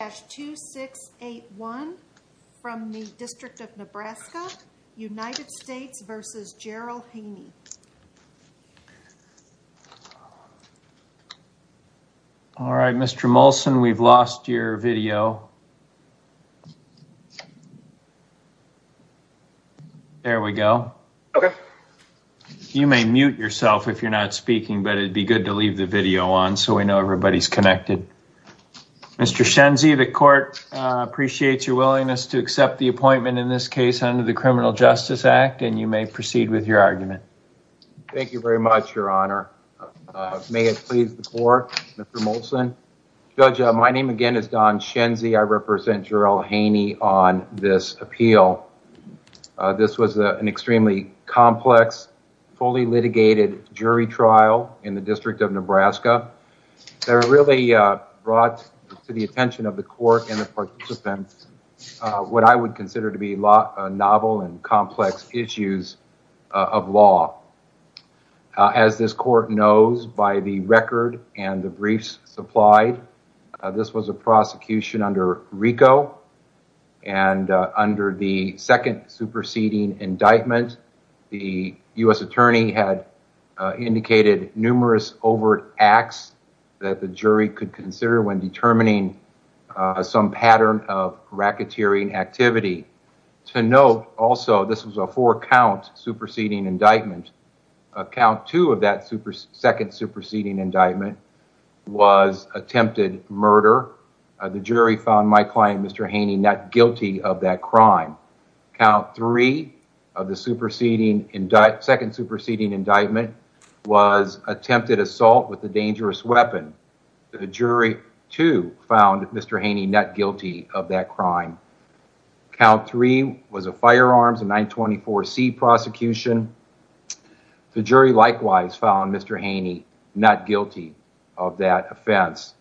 All right, Mr. Molson, we've lost your video. There we go. You may mute yourself if you're not speaking, but it'd be good to leave the video on so we know everybody's connected. Mr. Shenzie, the court appreciates your willingness to accept the appointment in this case under the Criminal Justice Act, and you may proceed with your argument. Thank you very much, Your Honor. May it please the court, Mr. Molson? Judge, my name again is Don Shenzie. I represent Jerell Haynie on this appeal. This was an extremely complex, fully litigated jury trial in the District of Nebraska. They really brought to the attention of the court and the participants what I would consider to be novel and complex issues of law. As this court knows by the record and the briefs supplied, this was a prosecution under RICO, and under the second superseding indictment, the U.S. attorney had indicated numerous overt acts that the jury could consider when determining some pattern of racketeering activity. To note, also, this was a four-count superseding indictment. Count two of that second superseding indictment was attempted murder. The jury found my client, Mr. Haynie, not guilty of that crime. Count three of the superseding indictment, second superseding indictment, was attempted assault with a dangerous weapon. The jury, too, found Mr. Haynie not guilty of that crime. Count three was a firearms and 924C prosecution. The jury, likewise, found Mr. Haynie not guilty of that offense.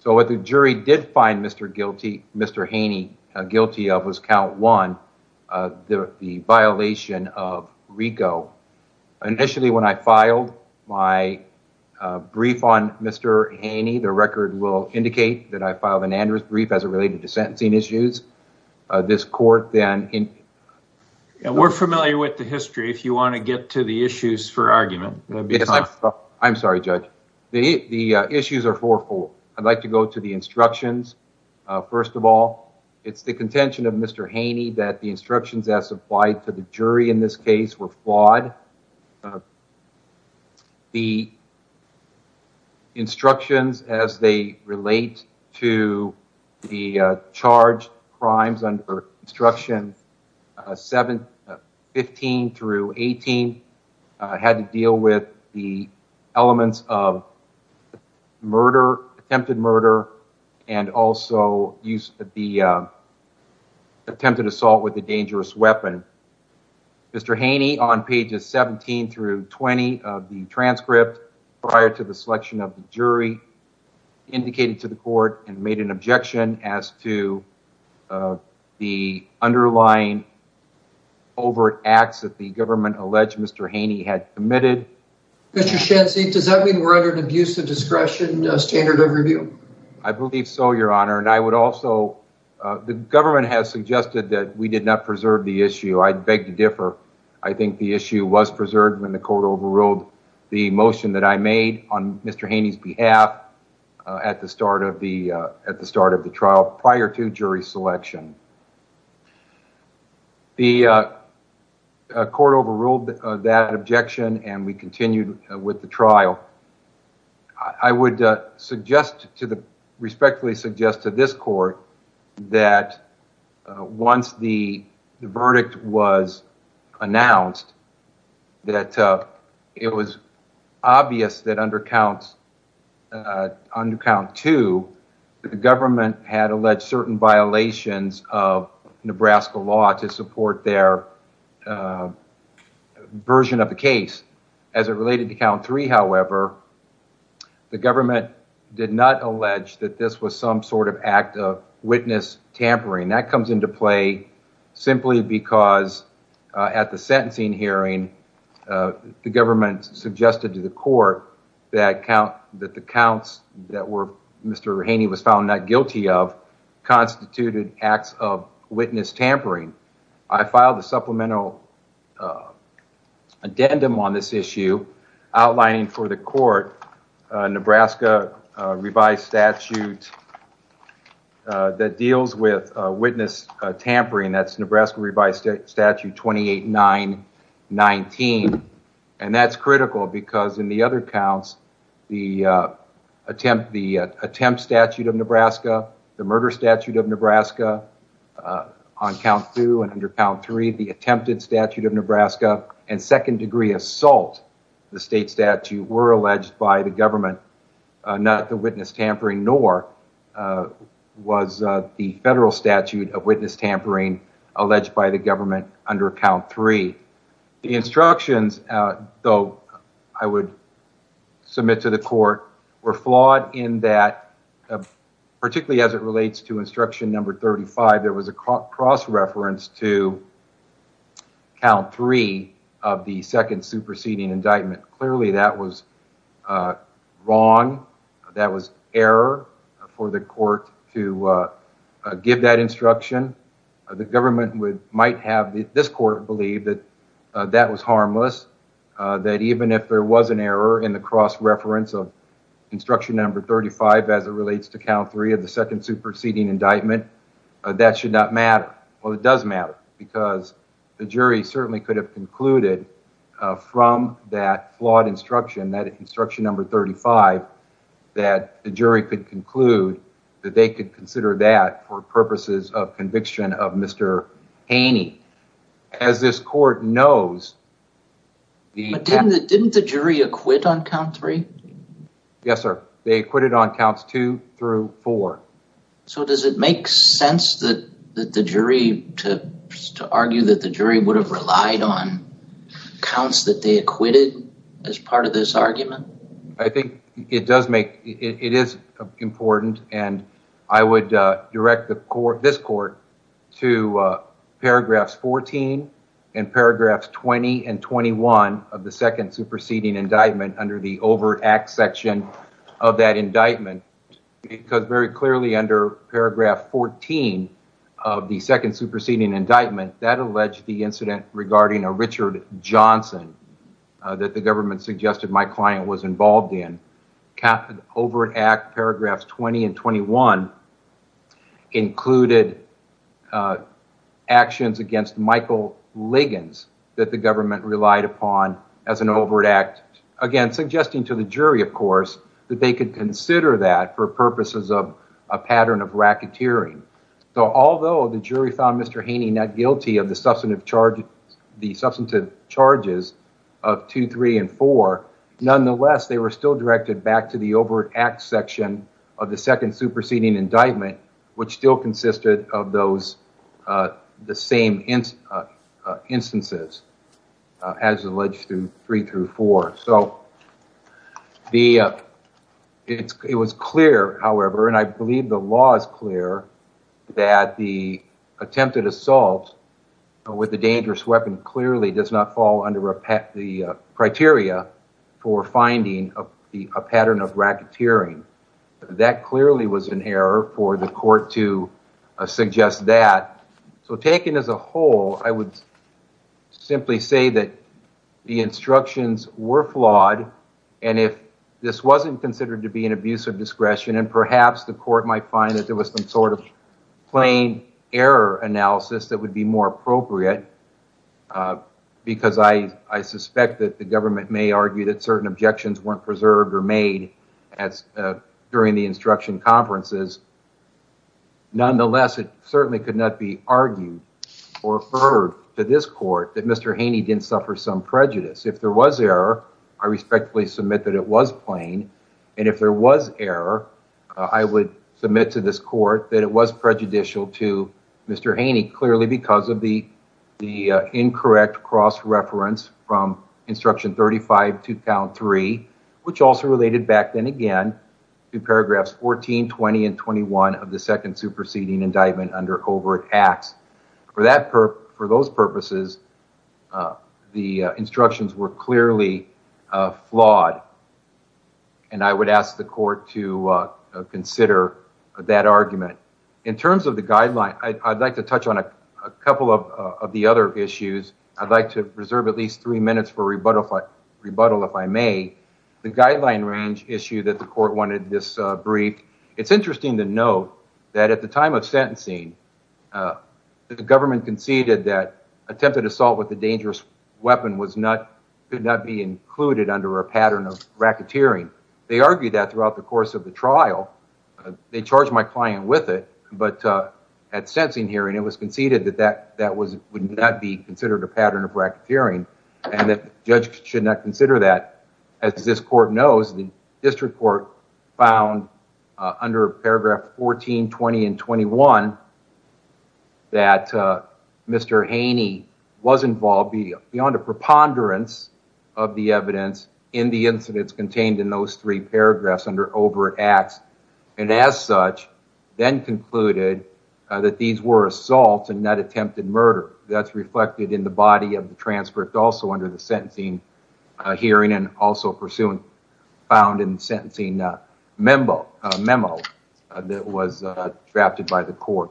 So what the jury did find Mr. Haynie guilty of was count one, the violation of RICO. Initially, when I filed my brief on Mr. Haynie, the record will indicate that I filed an address brief as it was. We're familiar with the history, if you want to get to the issues for argument. I'm sorry, judge. The issues are fourfold. I'd like to go to the instructions. First of all, it's the contention of Mr. Haynie that the instructions as applied to the jury in this case were flawed. The instructions as they relate to the charged crimes under instruction 15 through 18 had to deal with the elements of attempted murder and also the attempted assault with a dangerous weapon. Mr. Haynie, on pages 17 through 20 of the transcript prior to the selection of the jury, indicated to the court and made an objection as to the underlying overt acts that the government alleged Mr. Haynie had committed. Mr. Shantzi, does that mean we're under an abuse of discretion standard of review? I believe so, your honor. The government has suggested that we did not preserve the issue. I beg to differ. I think the issue was preserved when the court overruled the motion that I made on Mr. Haynie's behalf at the start of the trial prior to jury selection. The court overruled that objection, and we continued with the trial. I would suggest to the respectfully suggest to this court that once the verdict was announced, that it was obvious that under count two, the government had alleged certain violations of Nebraska law to support their version of the case. As it related to count three, however, the government did not allege that this was some sort of act of witness tampering. That comes into play simply because at the sentencing hearing, the government suggested to the court that the counts that Mr. Haynie was found not guilty of constituted acts of witness tampering. I filed a supplemental addendum on this issue outlining for the court Nebraska revised statute that deals with witness tampering. That's Nebraska revised statute 28-9-19. That's critical because in the other counts, the attempt statute of Nebraska, the murder statute of Nebraska on count two and under count three, the attempted statute of Nebraska, and second degree assault, the state statute, were alleged by the government, not the witness tampering, nor was the federal statute of witness tampering alleged by the government under count three. The instructions, though, I would submit to the court were flawed in that particularly as it relates to instruction number 35, there was a cross-reference to count three of the second superseding indictment. Clearly that was wrong. That was error for the court to give that instruction. The government might have, this court believed that that was harmless, that even if there was an error in the cross-reference of instruction number 35 as it relates to count three of the second superseding indictment, that should not matter. Well, it does matter because the jury certainly could have concluded from that flawed instruction, that instruction number 35, that the jury could conclude that they could consider that for purposes of conviction of Mr. Haney. As this court knows... Didn't the jury acquit on count three? Yes, sir. They acquitted on counts two through four. So does it make sense that the jury, to argue that the jury would have relied on counts that they acquitted as part of this argument? I think it does make... It is important and I would direct this court to paragraphs 14 and paragraphs 20 and 21 of the second superseding indictment under the overt act section of that indictment, because very clearly under paragraph 14 of the second superseding indictment, that alleged the incident regarding a Richard Johnson that the government suggested my client was involved in. Overt act paragraphs 20 and 21 included actions against Michael Liggins that the government relied upon as an overt act. Again, suggesting to the jury, of course, that they could consider that for purposes of a pattern of racketeering. So although the jury found Mr. Haney not guilty of the substantive charges of two, three, and four, nonetheless, they were still directed back to the overt act section of the second superseding indictment, which still consisted of the same instances as alleged through three through four. So it was clear, however, and I believe the law is clear, that the attempted assault with a dangerous weapon clearly does not fall under the criteria for finding a pattern of racketeering. That clearly was an error for the court to suggest that. So taken as a whole, I would simply say that the instructions were flawed and if this wasn't considered to be an abuse of discretion and perhaps the court might find that there was some sort of plain error analysis that would be more appropriate, because I suspect that the government may argue that certain objections weren't preserved or made during the instruction conferences. Nonetheless, it certainly could not be argued or referred to this court that Mr. Haney didn't suffer some prejudice. If there was error, I respectfully submit that it was plain and if there was error, I would submit to this court that it was prejudicial to Mr. Haney, clearly because of the incorrect cross reference from instruction 35-3, which also related back then again to paragraphs 14, 20, and 21 of the second superseding indictment under overt acts. For those purposes, the instructions were clearly flawed and I would ask the court to consider that argument. In terms of the guideline, I would like to touch on a couple of the other issues. I would like to reserve at least three minutes for rebuttal if I may. The guideline range issue that the court wanted this brief, it's interesting to note that at the time of sentencing, the government conceded that attempted assault with a dangerous weapon could not be included under a pattern of racketeering. They argued that throughout the course of the trial. They charged my client with it, but at sentencing hearing, it was conceded that that would not be considered a pattern of racketeering and the judge should not consider that. As this court knows, the district court found under paragraph 14, 20, and 21 that Mr. Haney was involved beyond a preponderance of the evidence in the incidents contained in those three paragraphs under overt acts and as such, then concluded that these were assaults and not attempted murder. That's reflected in the body of the transfer. It's also under the sentencing hearing and also found in the sentencing memo that was drafted by the court.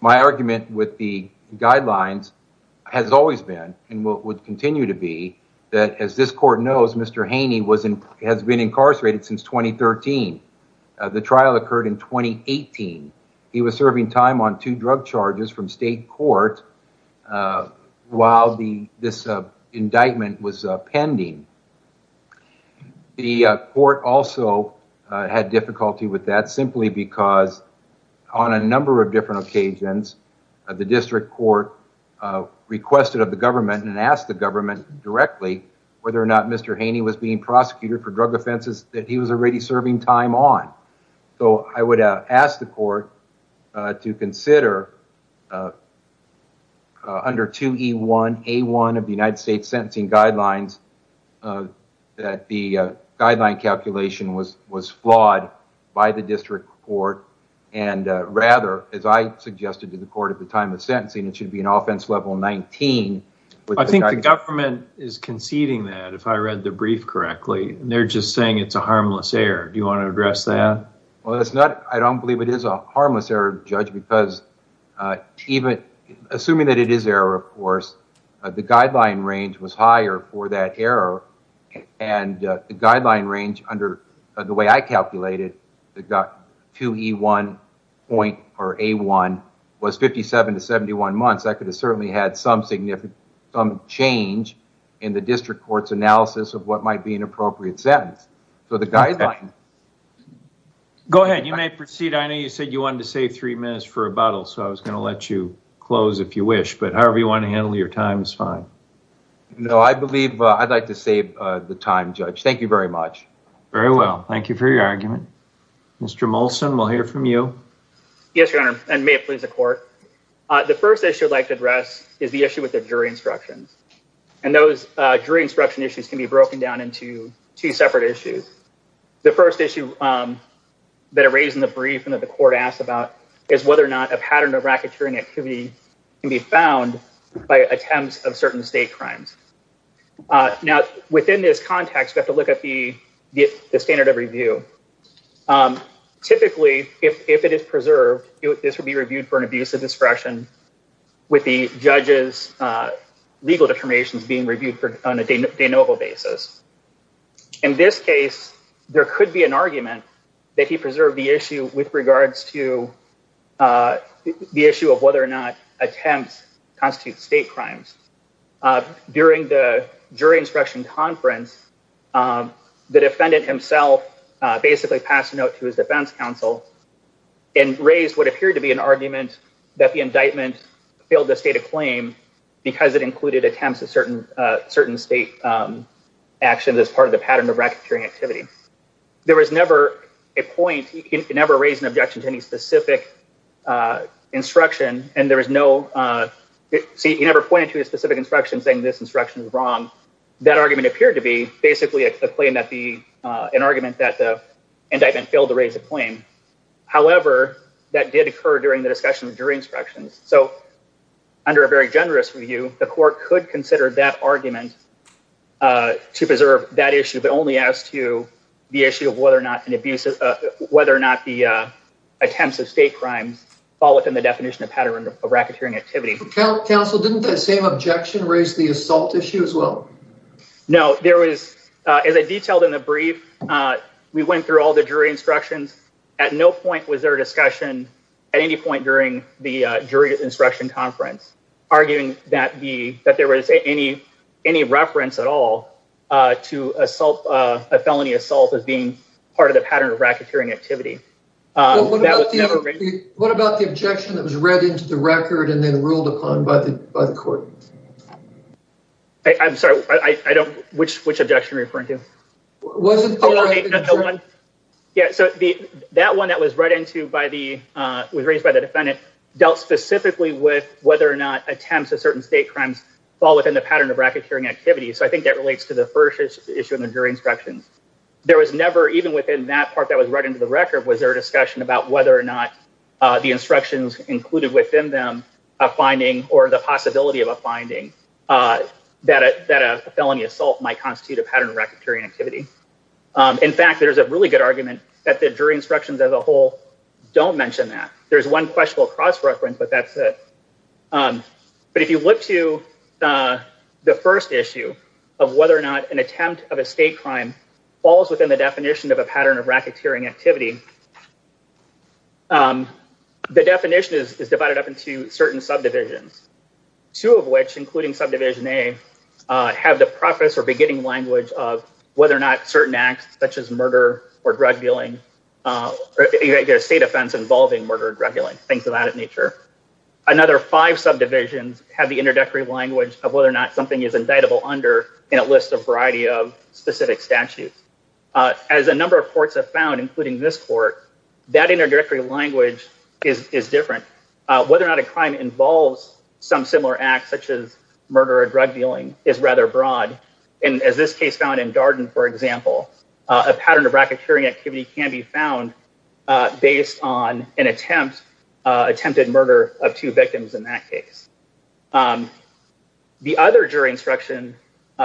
My argument with the guidelines has always been and will continue to be that as this court knows, Mr. Haney has been incarcerated since 2013. The trial occurred in 2018. He was serving time on pending. The court also had difficulty with that simply because on a number of different occasions, the district court requested of the government and asked the government directly whether or not Mr. Haney was being prosecuted for drug offenses that he was already serving time on. So I would ask the court to consider under 2E1A1 of the United States sentencing guidelines that the guideline calculation was flawed by the district court and rather, as I suggested to the court at the time of sentencing, it should be an offense level 19. I think the government is conceding that if I read the brief correctly. They're just saying it's a harmless error. Do believe it is a harmless error, judge, because even assuming that it is error, of course, the guideline range was higher for that error, and the guideline range under the way I calculated that got 2E1 point or A1 was 57 to 71 months. That could have certainly had some significant some change in the district court's analysis of what might be an appropriate sentence. So the guideline. Go ahead. You may proceed. I know you said you wanted to save three minutes for rebuttal, so I was going to let you close if you wish, but however you want to handle your time is fine. No, I believe I'd like to save the time, judge. Thank you very much. Very well. Thank you for your argument. Mr. Molson, we'll hear from you. Yes, your honor, and may it please the court. The first issue I'd like to address is the issue with the jury instructions, and those jury instruction issues can be broken down into two separate issues. The first issue that I raised in the brief and that the court asked about is whether or not a pattern of racketeering activity can be found by attempts of certain state crimes. Now, within this context, we have to look at the standard of review. Typically, if it is preserved, this would be being reviewed on a de novo basis. In this case, there could be an argument that he preserved the issue with regards to the issue of whether or not attempts constitute state crimes. During the jury instruction conference, the defendant himself basically passed a note to his defense counsel and raised what appeared to be an argument that the indictment filled the state of claim because it included attempts of certain state actions as part of the pattern of racketeering activity. There was never a point, he never raised an objection to any specific instruction, and there was no, see, he never pointed to a specific instruction saying this instruction is wrong. That argument appeared to be basically a claim that the, an argument that the indictment failed to raise a claim. However, that did occur during the discussion of jury general review. The court could consider that argument to preserve that issue, but only as to the issue of whether or not an abusive, whether or not the attempts of state crimes fall within the definition of pattern of racketeering activity. Counsel, didn't the same objection raise the assault issue as well? No, there was, as I detailed in the brief, we went through all the jury instructions. At no point was there a discussion at any point during the jury instruction conference arguing that there was any reference at all to a felony assault as being part of the pattern of racketeering activity. What about the objection that was read into the record and then ruled upon by the court? I'm sorry, I don't, which objection are you referring to? Well, yeah, so that one that was read into by the, was raised by the defendant, dealt specifically with whether or not attempts of certain state crimes fall within the pattern of racketeering activity. So I think that relates to the first issue of the jury instructions. There was never, even within that part that was right into the record, was there a discussion about whether or not the instructions included within them a finding or the possibility of a that a felony assault might constitute a pattern of racketeering activity. In fact, there's a really good argument that the jury instructions as a whole don't mention that. There's one questionable cross-reference, but that's it. But if you look to the first issue of whether or not an attempt of a state crime falls within the definition of a pattern of racketeering activity, the definition is divided up into certain subdivisions, two of which, including subdivision A, have the preface or beginning language of whether or not certain acts, such as murder or drug dealing, a state offense involving murder or drug dealing, things of that nature. Another five subdivisions have the introductory language of whether or not something is indictable under, and it lists a variety of specific statutes. As a number of courts have included in this court, that introductory language is different. Whether or not a crime involves some similar act, such as murder or drug dealing, is rather broad. And as this case found in Darden, for example, a pattern of racketeering activity can be found based on an attempted murder of two victims in that case. The other jury instruction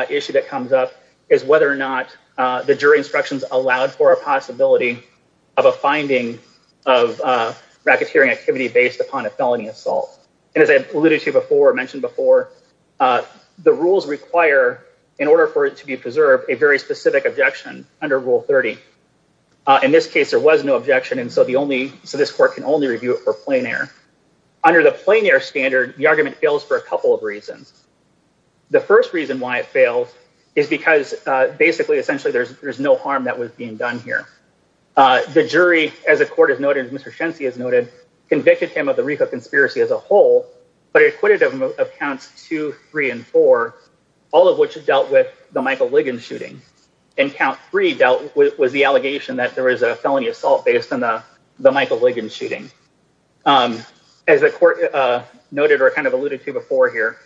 issue that comes up is whether or not the jury instructions allowed for a possibility of a finding of racketeering activity based upon a felony assault. And as I alluded to before, mentioned before, the rules require, in order for it to be preserved, a very specific objection under Rule 30. In this case, there was no objection, and so the only, so this court can only review it for plein air. Under the plein air standard, the argument fails for a couple of reasons. The first reason why it fails is because basically, essentially, there's no harm that was being done here. The jury, as the court has noted, as Mr. Shensey has noted, convicted him of the Rifa conspiracy as a whole, but acquitted him of Counts 2, 3, and 4, all of which dealt with the Michael Ligon shooting. And Count 3 was the allegation that there was a felony assault based on the Michael Ligon shooting. As the court noted, or kind of alluded to before here,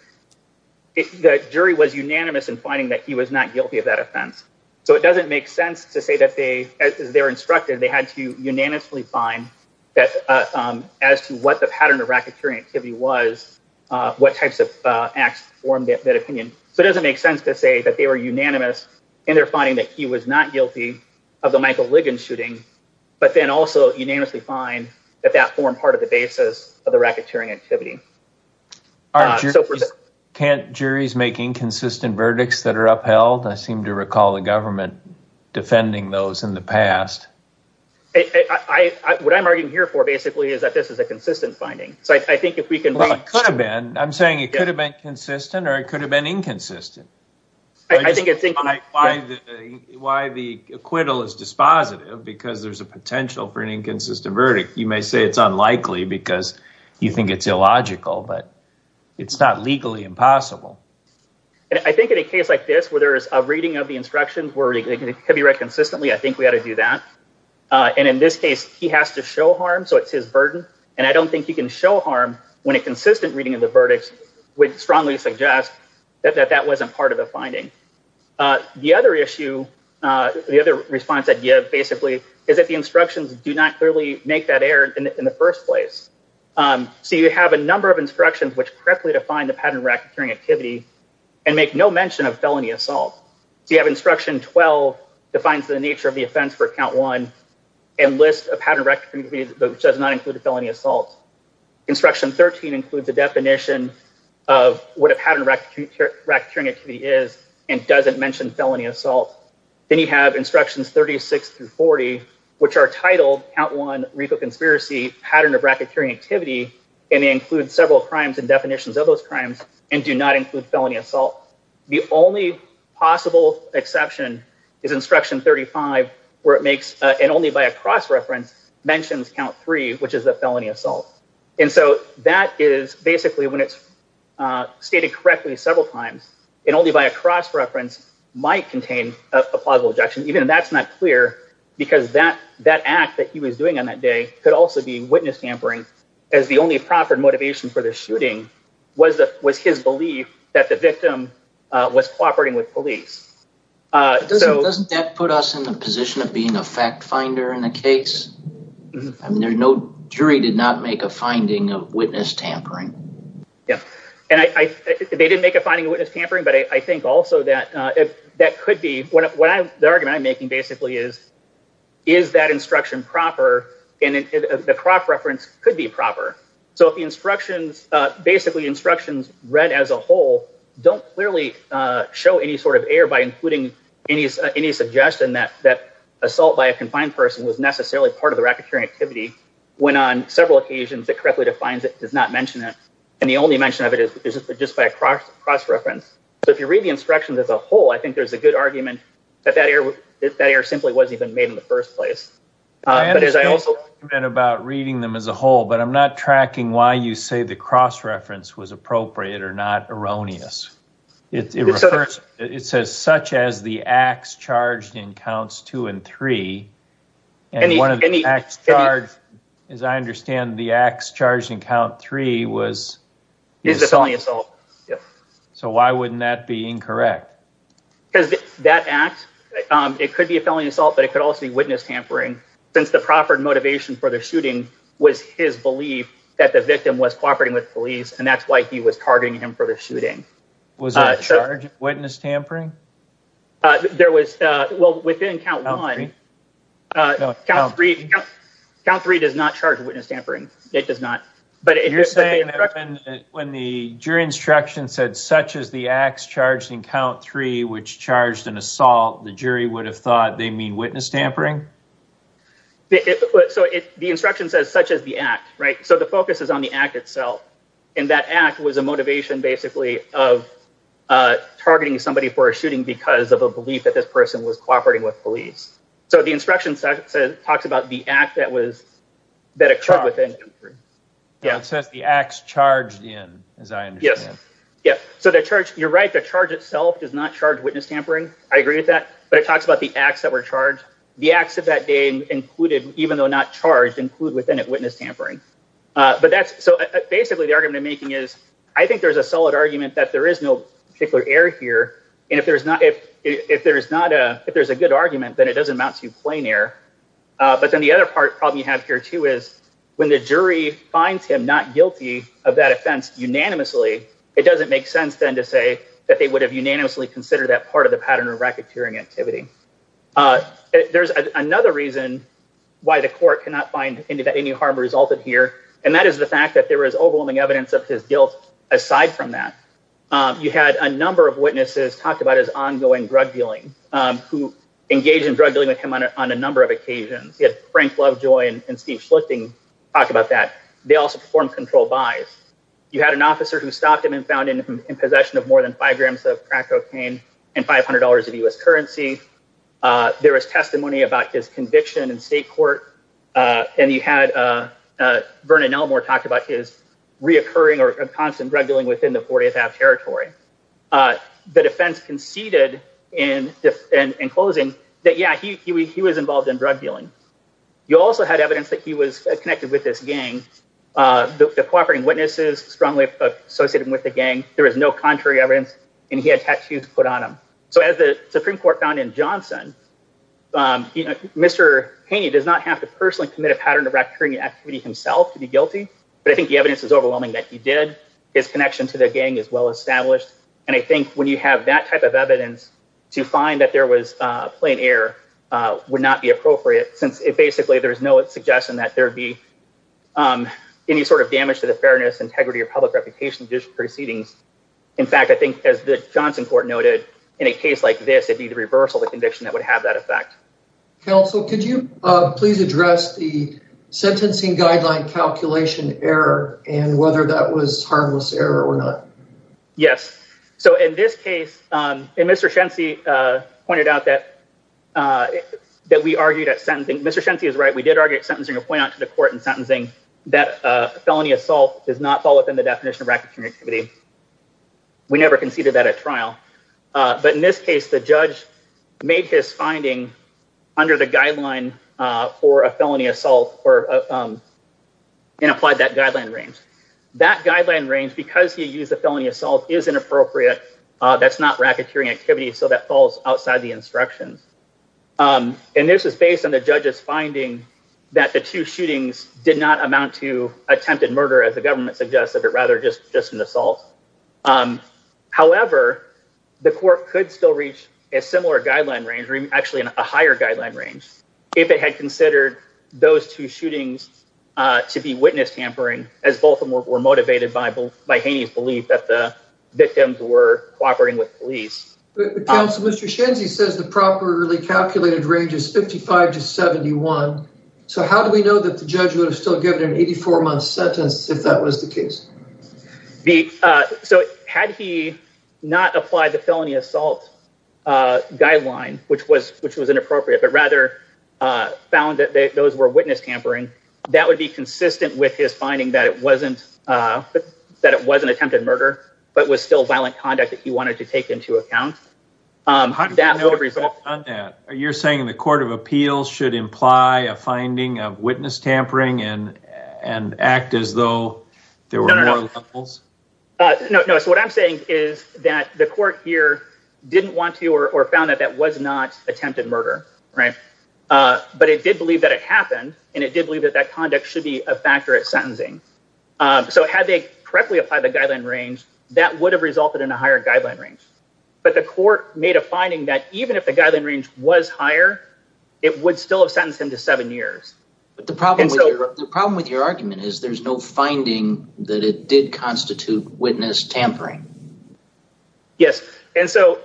the jury was unanimous in finding that he was not guilty of that offense. So it doesn't make sense to say that they, as they're instructed, they had to unanimously find that as to what the pattern of racketeering activity was, what types of acts formed that opinion. So it doesn't make sense to say that they were unanimous in their finding that he was not guilty of the Michael Ligon shooting, but then also unanimously find that that formed part of the basis of the racketeering activity. Can't juries make inconsistent verdicts are upheld? I seem to recall the government defending those in the past. What I'm arguing here for basically is that this is a consistent finding. So I think if we can... Well, it could have been. I'm saying it could have been consistent or it could have been inconsistent. Why the acquittal is dispositive because there's a potential for an inconsistent verdict. You may say it's unlikely because you think it's illogical, but it's not legally impossible. And I think in a case like this, where there's a reading of the instructions where it could be read consistently, I think we ought to do that. And in this case, he has to show harm. So it's his burden. And I don't think you can show harm when a consistent reading of the verdicts would strongly suggest that that wasn't part of the finding. The other issue, the other response idea basically is that the instructions do not clearly make that error in the first place. So you have a number of instructions which correctly define the pattern of racketeering activity and make no mention of felony assault. So you have instruction 12, defines the nature of the offense for count one and lists a pattern of racketeering activity which does not include felony assault. Instruction 13 includes the definition of what a pattern of racketeering activity is and doesn't mention felony assault. Then you have instructions 36 through 40, which are titled count one, RICO conspiracy, pattern of racketeering activity, and they include several crimes and definitions of those crimes and do not include felony assault. The only possible exception is instruction 35, where it makes, and only by a cross reference, mentions count three, which is a felony assault. And so that is basically when it's stated correctly several times and only by a cross reference might contain a plausible objection, even if that's not clear, because that act that he was doing on that day could also be witness tampering as the only proper motivation for the shooting was his belief that the victim was cooperating with police. Doesn't that put us in the position of being a fact finder in a case? I mean, no jury did not make a finding of witness tampering. Yeah, and they didn't make a finding of witness tampering, but I think also that could be what the argument I'm making basically is, is that instruction proper? And the cross reference could be proper. So if the instructions, basically instructions read as a whole, don't clearly show any sort of air by including any suggestion that assault by a confined person was necessarily part of the racketeering activity when on several occasions it correctly defines it, does not mention it. And the only mention of it is just by a cross reference. So if you read the whole, I think there's a good argument that that air simply wasn't even made in the first place. I understand the argument about reading them as a whole, but I'm not tracking why you say the cross reference was appropriate or not erroneous. It says such as the acts charged in counts two and three, and one of the acts charged, as I understand the acts charged in count three was assault. So why wouldn't that be incorrect? Because that act, it could be a felony assault, but it could also be witness tampering since the proper motivation for the shooting was his belief that the victim was cooperating with police. And that's why he was targeting him for the shooting. Was there a charge of witness tampering? There was, well, within count one, count three does not charge witness tampering. It does not. You're saying that when the jury instruction said such as the acts charged in count three, which charged an assault, the jury would have thought they mean witness tampering? So the instruction says such as the act, right? So the focus is on the act itself. And that act was a motivation basically of targeting somebody for a shooting because of belief that this person was cooperating with police. So the instruction talks about the act that occurred within count three. It says the acts charged in, as I understand it. Yes. So you're right. The charge itself does not charge witness tampering. I agree with that. But it talks about the acts that were charged. The acts of that day included, even though not charged, include within it witness tampering. So basically the argument I'm making is I think there's a if there's a good argument, then it doesn't amount to plain air. But then the other part problem you have here too is when the jury finds him not guilty of that offense unanimously, it doesn't make sense then to say that they would have unanimously considered that part of the pattern of racketeering activity. There's another reason why the court cannot find any harm resulted here. And that is the fact that there is overwhelming evidence of his guilt. Aside from that, you had a number of witnesses talk about his ongoing drug dealing, who engaged in drug dealing with him on a number of occasions. You had Frank Lovejoy and Steve Schlichting talk about that. They also performed control buys. You had an officer who stopped him and found him in possession of more than five grams of crack cocaine and five hundred dollars of U.S. currency. There was testimony about his conviction in state court. And you had Vernon talked about his reoccurring or constant drug dealing within the 40th territory. The defense conceded in closing that, yeah, he was involved in drug dealing. You also had evidence that he was connected with this gang. The cooperating witnesses strongly associated with the gang. There is no contrary evidence. And he had tattoos put on him. So as the Supreme Court found in Johnson, Mr. Haney does not have to personally commit a pattern of racketeering himself to be guilty. But I think the evidence is overwhelming that he did. His connection to the gang is well established. And I think when you have that type of evidence to find that there was plain air would not be appropriate since it basically there is no suggestion that there would be any sort of damage to the fairness, integrity or public reputation proceedings. In fact, I think as the Johnson court noted, in a case like this, it'd be the reversal of the conviction that would have that effect. Counsel, could you please address the sentencing guideline calculation error and whether that was harmless error or not? Yes. So in this case, Mr. Shency pointed out that we argued at sentencing. Mr. Shency is right. We did argue at sentencing and point out to the court in sentencing that felony assault does not fall within the definition of racketeering activity. We never conceded that at trial. But in this case, the judge made his finding under the guideline for a felony assault and applied that guideline range. That guideline range, because he used the felony assault, is inappropriate. That's not racketeering activity. So that falls outside the instructions. And this is based on the judge's finding that the two shootings did not amount to attempted murder, as the government suggests, rather just an assault. However, the court could still reach a similar guideline range, actually a higher guideline range, if it had considered those two shootings to be witness tampering, as both of them were motivated by Haney's belief that the victims were cooperating with police. Counsel, Mr. Shency says the properly calculated range is 55 to 71. So how do we know that the judge would have still given an 84-month sentence if that was the case? The, so had he not applied the felony assault guideline, which was, which was inappropriate, but rather found that those were witness tampering, that would be consistent with his finding that it wasn't, that it wasn't attempted murder, but was still violent conduct that he wanted to take into account. How do we know that? You're saying the court of appeals should imply a finding of witness tampering and, and act as though there were more levels? No, no. So what I'm saying is that the court here didn't want to, or found that that was not attempted murder, right? But it did believe that it happened, and it did believe that that conduct should be a factor at sentencing. So had they correctly applied the guideline range, that would have resulted in a higher guideline range. But the court made a finding that even if the guideline range was higher, it would still have sentenced him to seven years. But the problem, the problem with your argument is there's no finding that it did constitute witness tampering. Yes. And so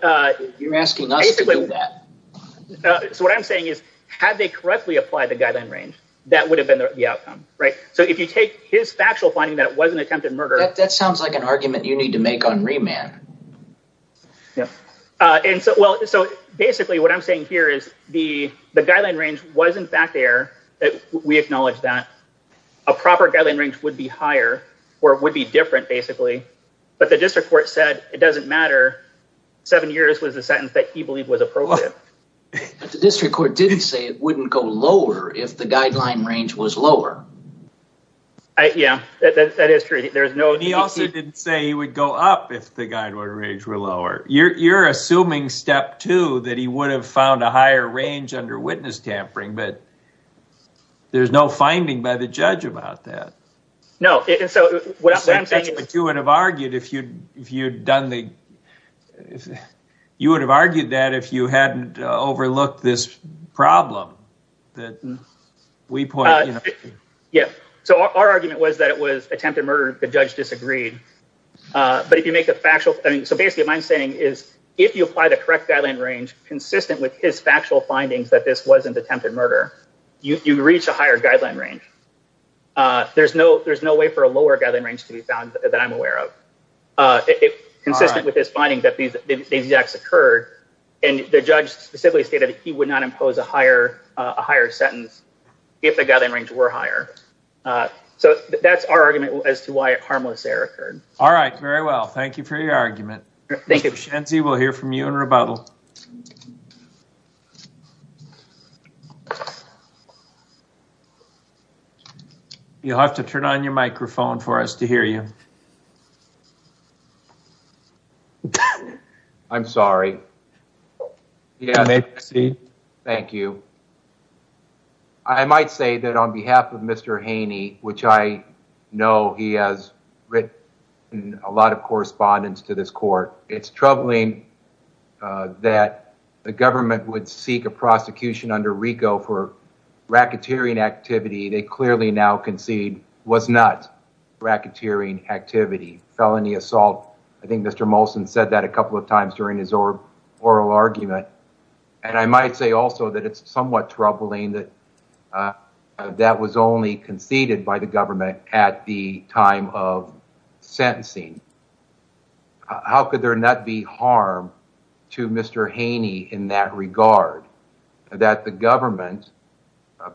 you're asking us to do that. So what I'm saying is, had they correctly applied the guideline range, that would have been the outcome, right? So if you take his factual finding that it wasn't attempted murder, that sounds like an argument you need to make on remand. Yeah. And so, well, so basically, what I'm saying here is the, the guideline range wasn't back there, that we acknowledge that a proper guideline range would be higher, or it would be different, basically. But the district court said, it doesn't matter. Seven years was the sentence that he believed was appropriate. The district court didn't say it wouldn't go lower if the guideline range was lower. Yeah, that is true. There's no, he also didn't say he would go up if the guideline range were lower. You're, you're assuming step two, that he would have found a higher range under witness tampering, but there's no finding by the judge about that. No. And so what I'm saying is, you would have argued if you'd, if you'd done the, if you would have argued that if you hadn't overlooked this problem that we pointed out. Yeah. So our argument was that attempted murder, the judge disagreed. But if you make a factual, I mean, so basically, what I'm saying is, if you apply the correct guideline range, consistent with his factual findings that this wasn't attempted murder, you reach a higher guideline range. There's no, there's no way for a lower guideline range to be found that I'm aware of. It consistent with this finding that these acts occurred. And the judge specifically stated that he would not impose a higher, a higher sentence if the guideline range were higher. So that's our argument as to why a harmless error occurred. All right. Very well. Thank you for your argument. Thank you. Mr. Shenzie, we'll hear from you in rebuttal. You'll have to turn on your microphone for us to hear you. I'm sorry. Yeah. Thank you. I might say that on behalf of Mr. Haney, which I know he has written a lot of correspondence to this court, it's troubling that the government would seek a prosecution under RICO for racketeering activity. They clearly now concede was not racketeering activity, felony assault. I think Mr. Molson said that a couple of times during his oral argument. And I might say also that it's somewhat troubling that that was only conceded by the government at the time of sentencing. How could there not be harm to Mr. Haney in that regard, that the government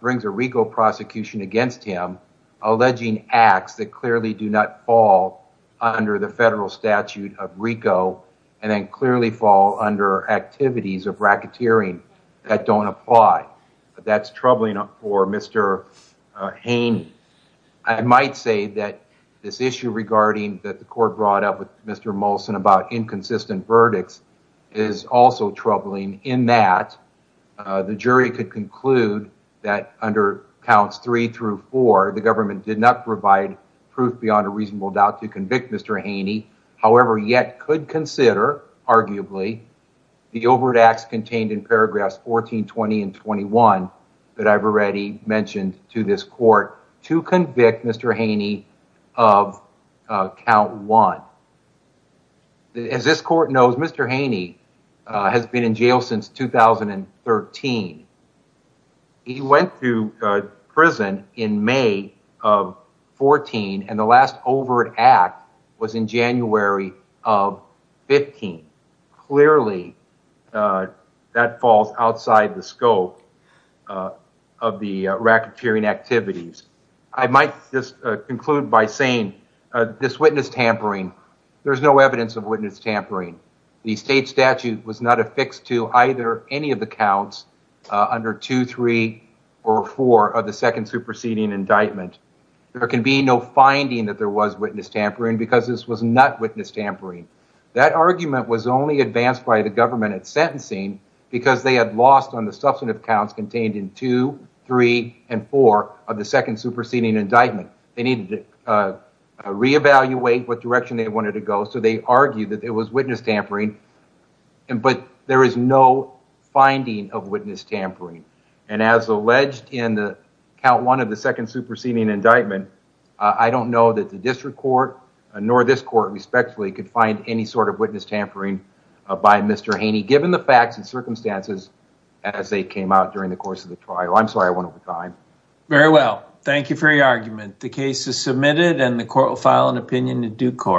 brings a RICO prosecution against him, alleging acts that clearly do not fall under the federal statute of RICO and then clearly fall under activities of racketeering that don't apply? That's troubling for Mr. Haney. I might say that this issue regarding that the court brought up with Mr. Molson about inconsistent verdicts is also troubling in that the jury could conclude that under counts three through four, the government did not provide proof beyond a reasonable doubt to convict Mr. Haney. However, yet could consider, arguably, the overt acts contained in paragraphs 14, 20, and 21 that I've already mentioned to this court to convict Mr. Haney of count one. Now, as this court knows, Mr. Haney has been in jail since 2013. He went to prison in May of 14, and the last overt act was in January of 15. Clearly, that falls outside the scope of the racketeering activities. I might just conclude by saying this witness tampering, there's no evidence of witness tampering. The state statute was not affixed to either any of the counts under two, three, or four of the second superseding indictment. There can be no finding that there was witness tampering because this was not witness tampering. That argument was only advanced by the government at sentencing because they had lost on the substantive counts contained in two, three, and four of the second superseding indictment. They needed to re-evaluate what direction they wanted to go, so they argued that it was witness tampering, but there is no finding of witness tampering. And as alleged in the count one of the second superseding indictment, I don't know that the district court nor this court respectfully could find any sort of witness tampering by Mr. Haney, given the out during the course of the trial. I'm sorry I went over time. Very well. Thank you for your argument. The case is submitted and the court will file an opinion in due course.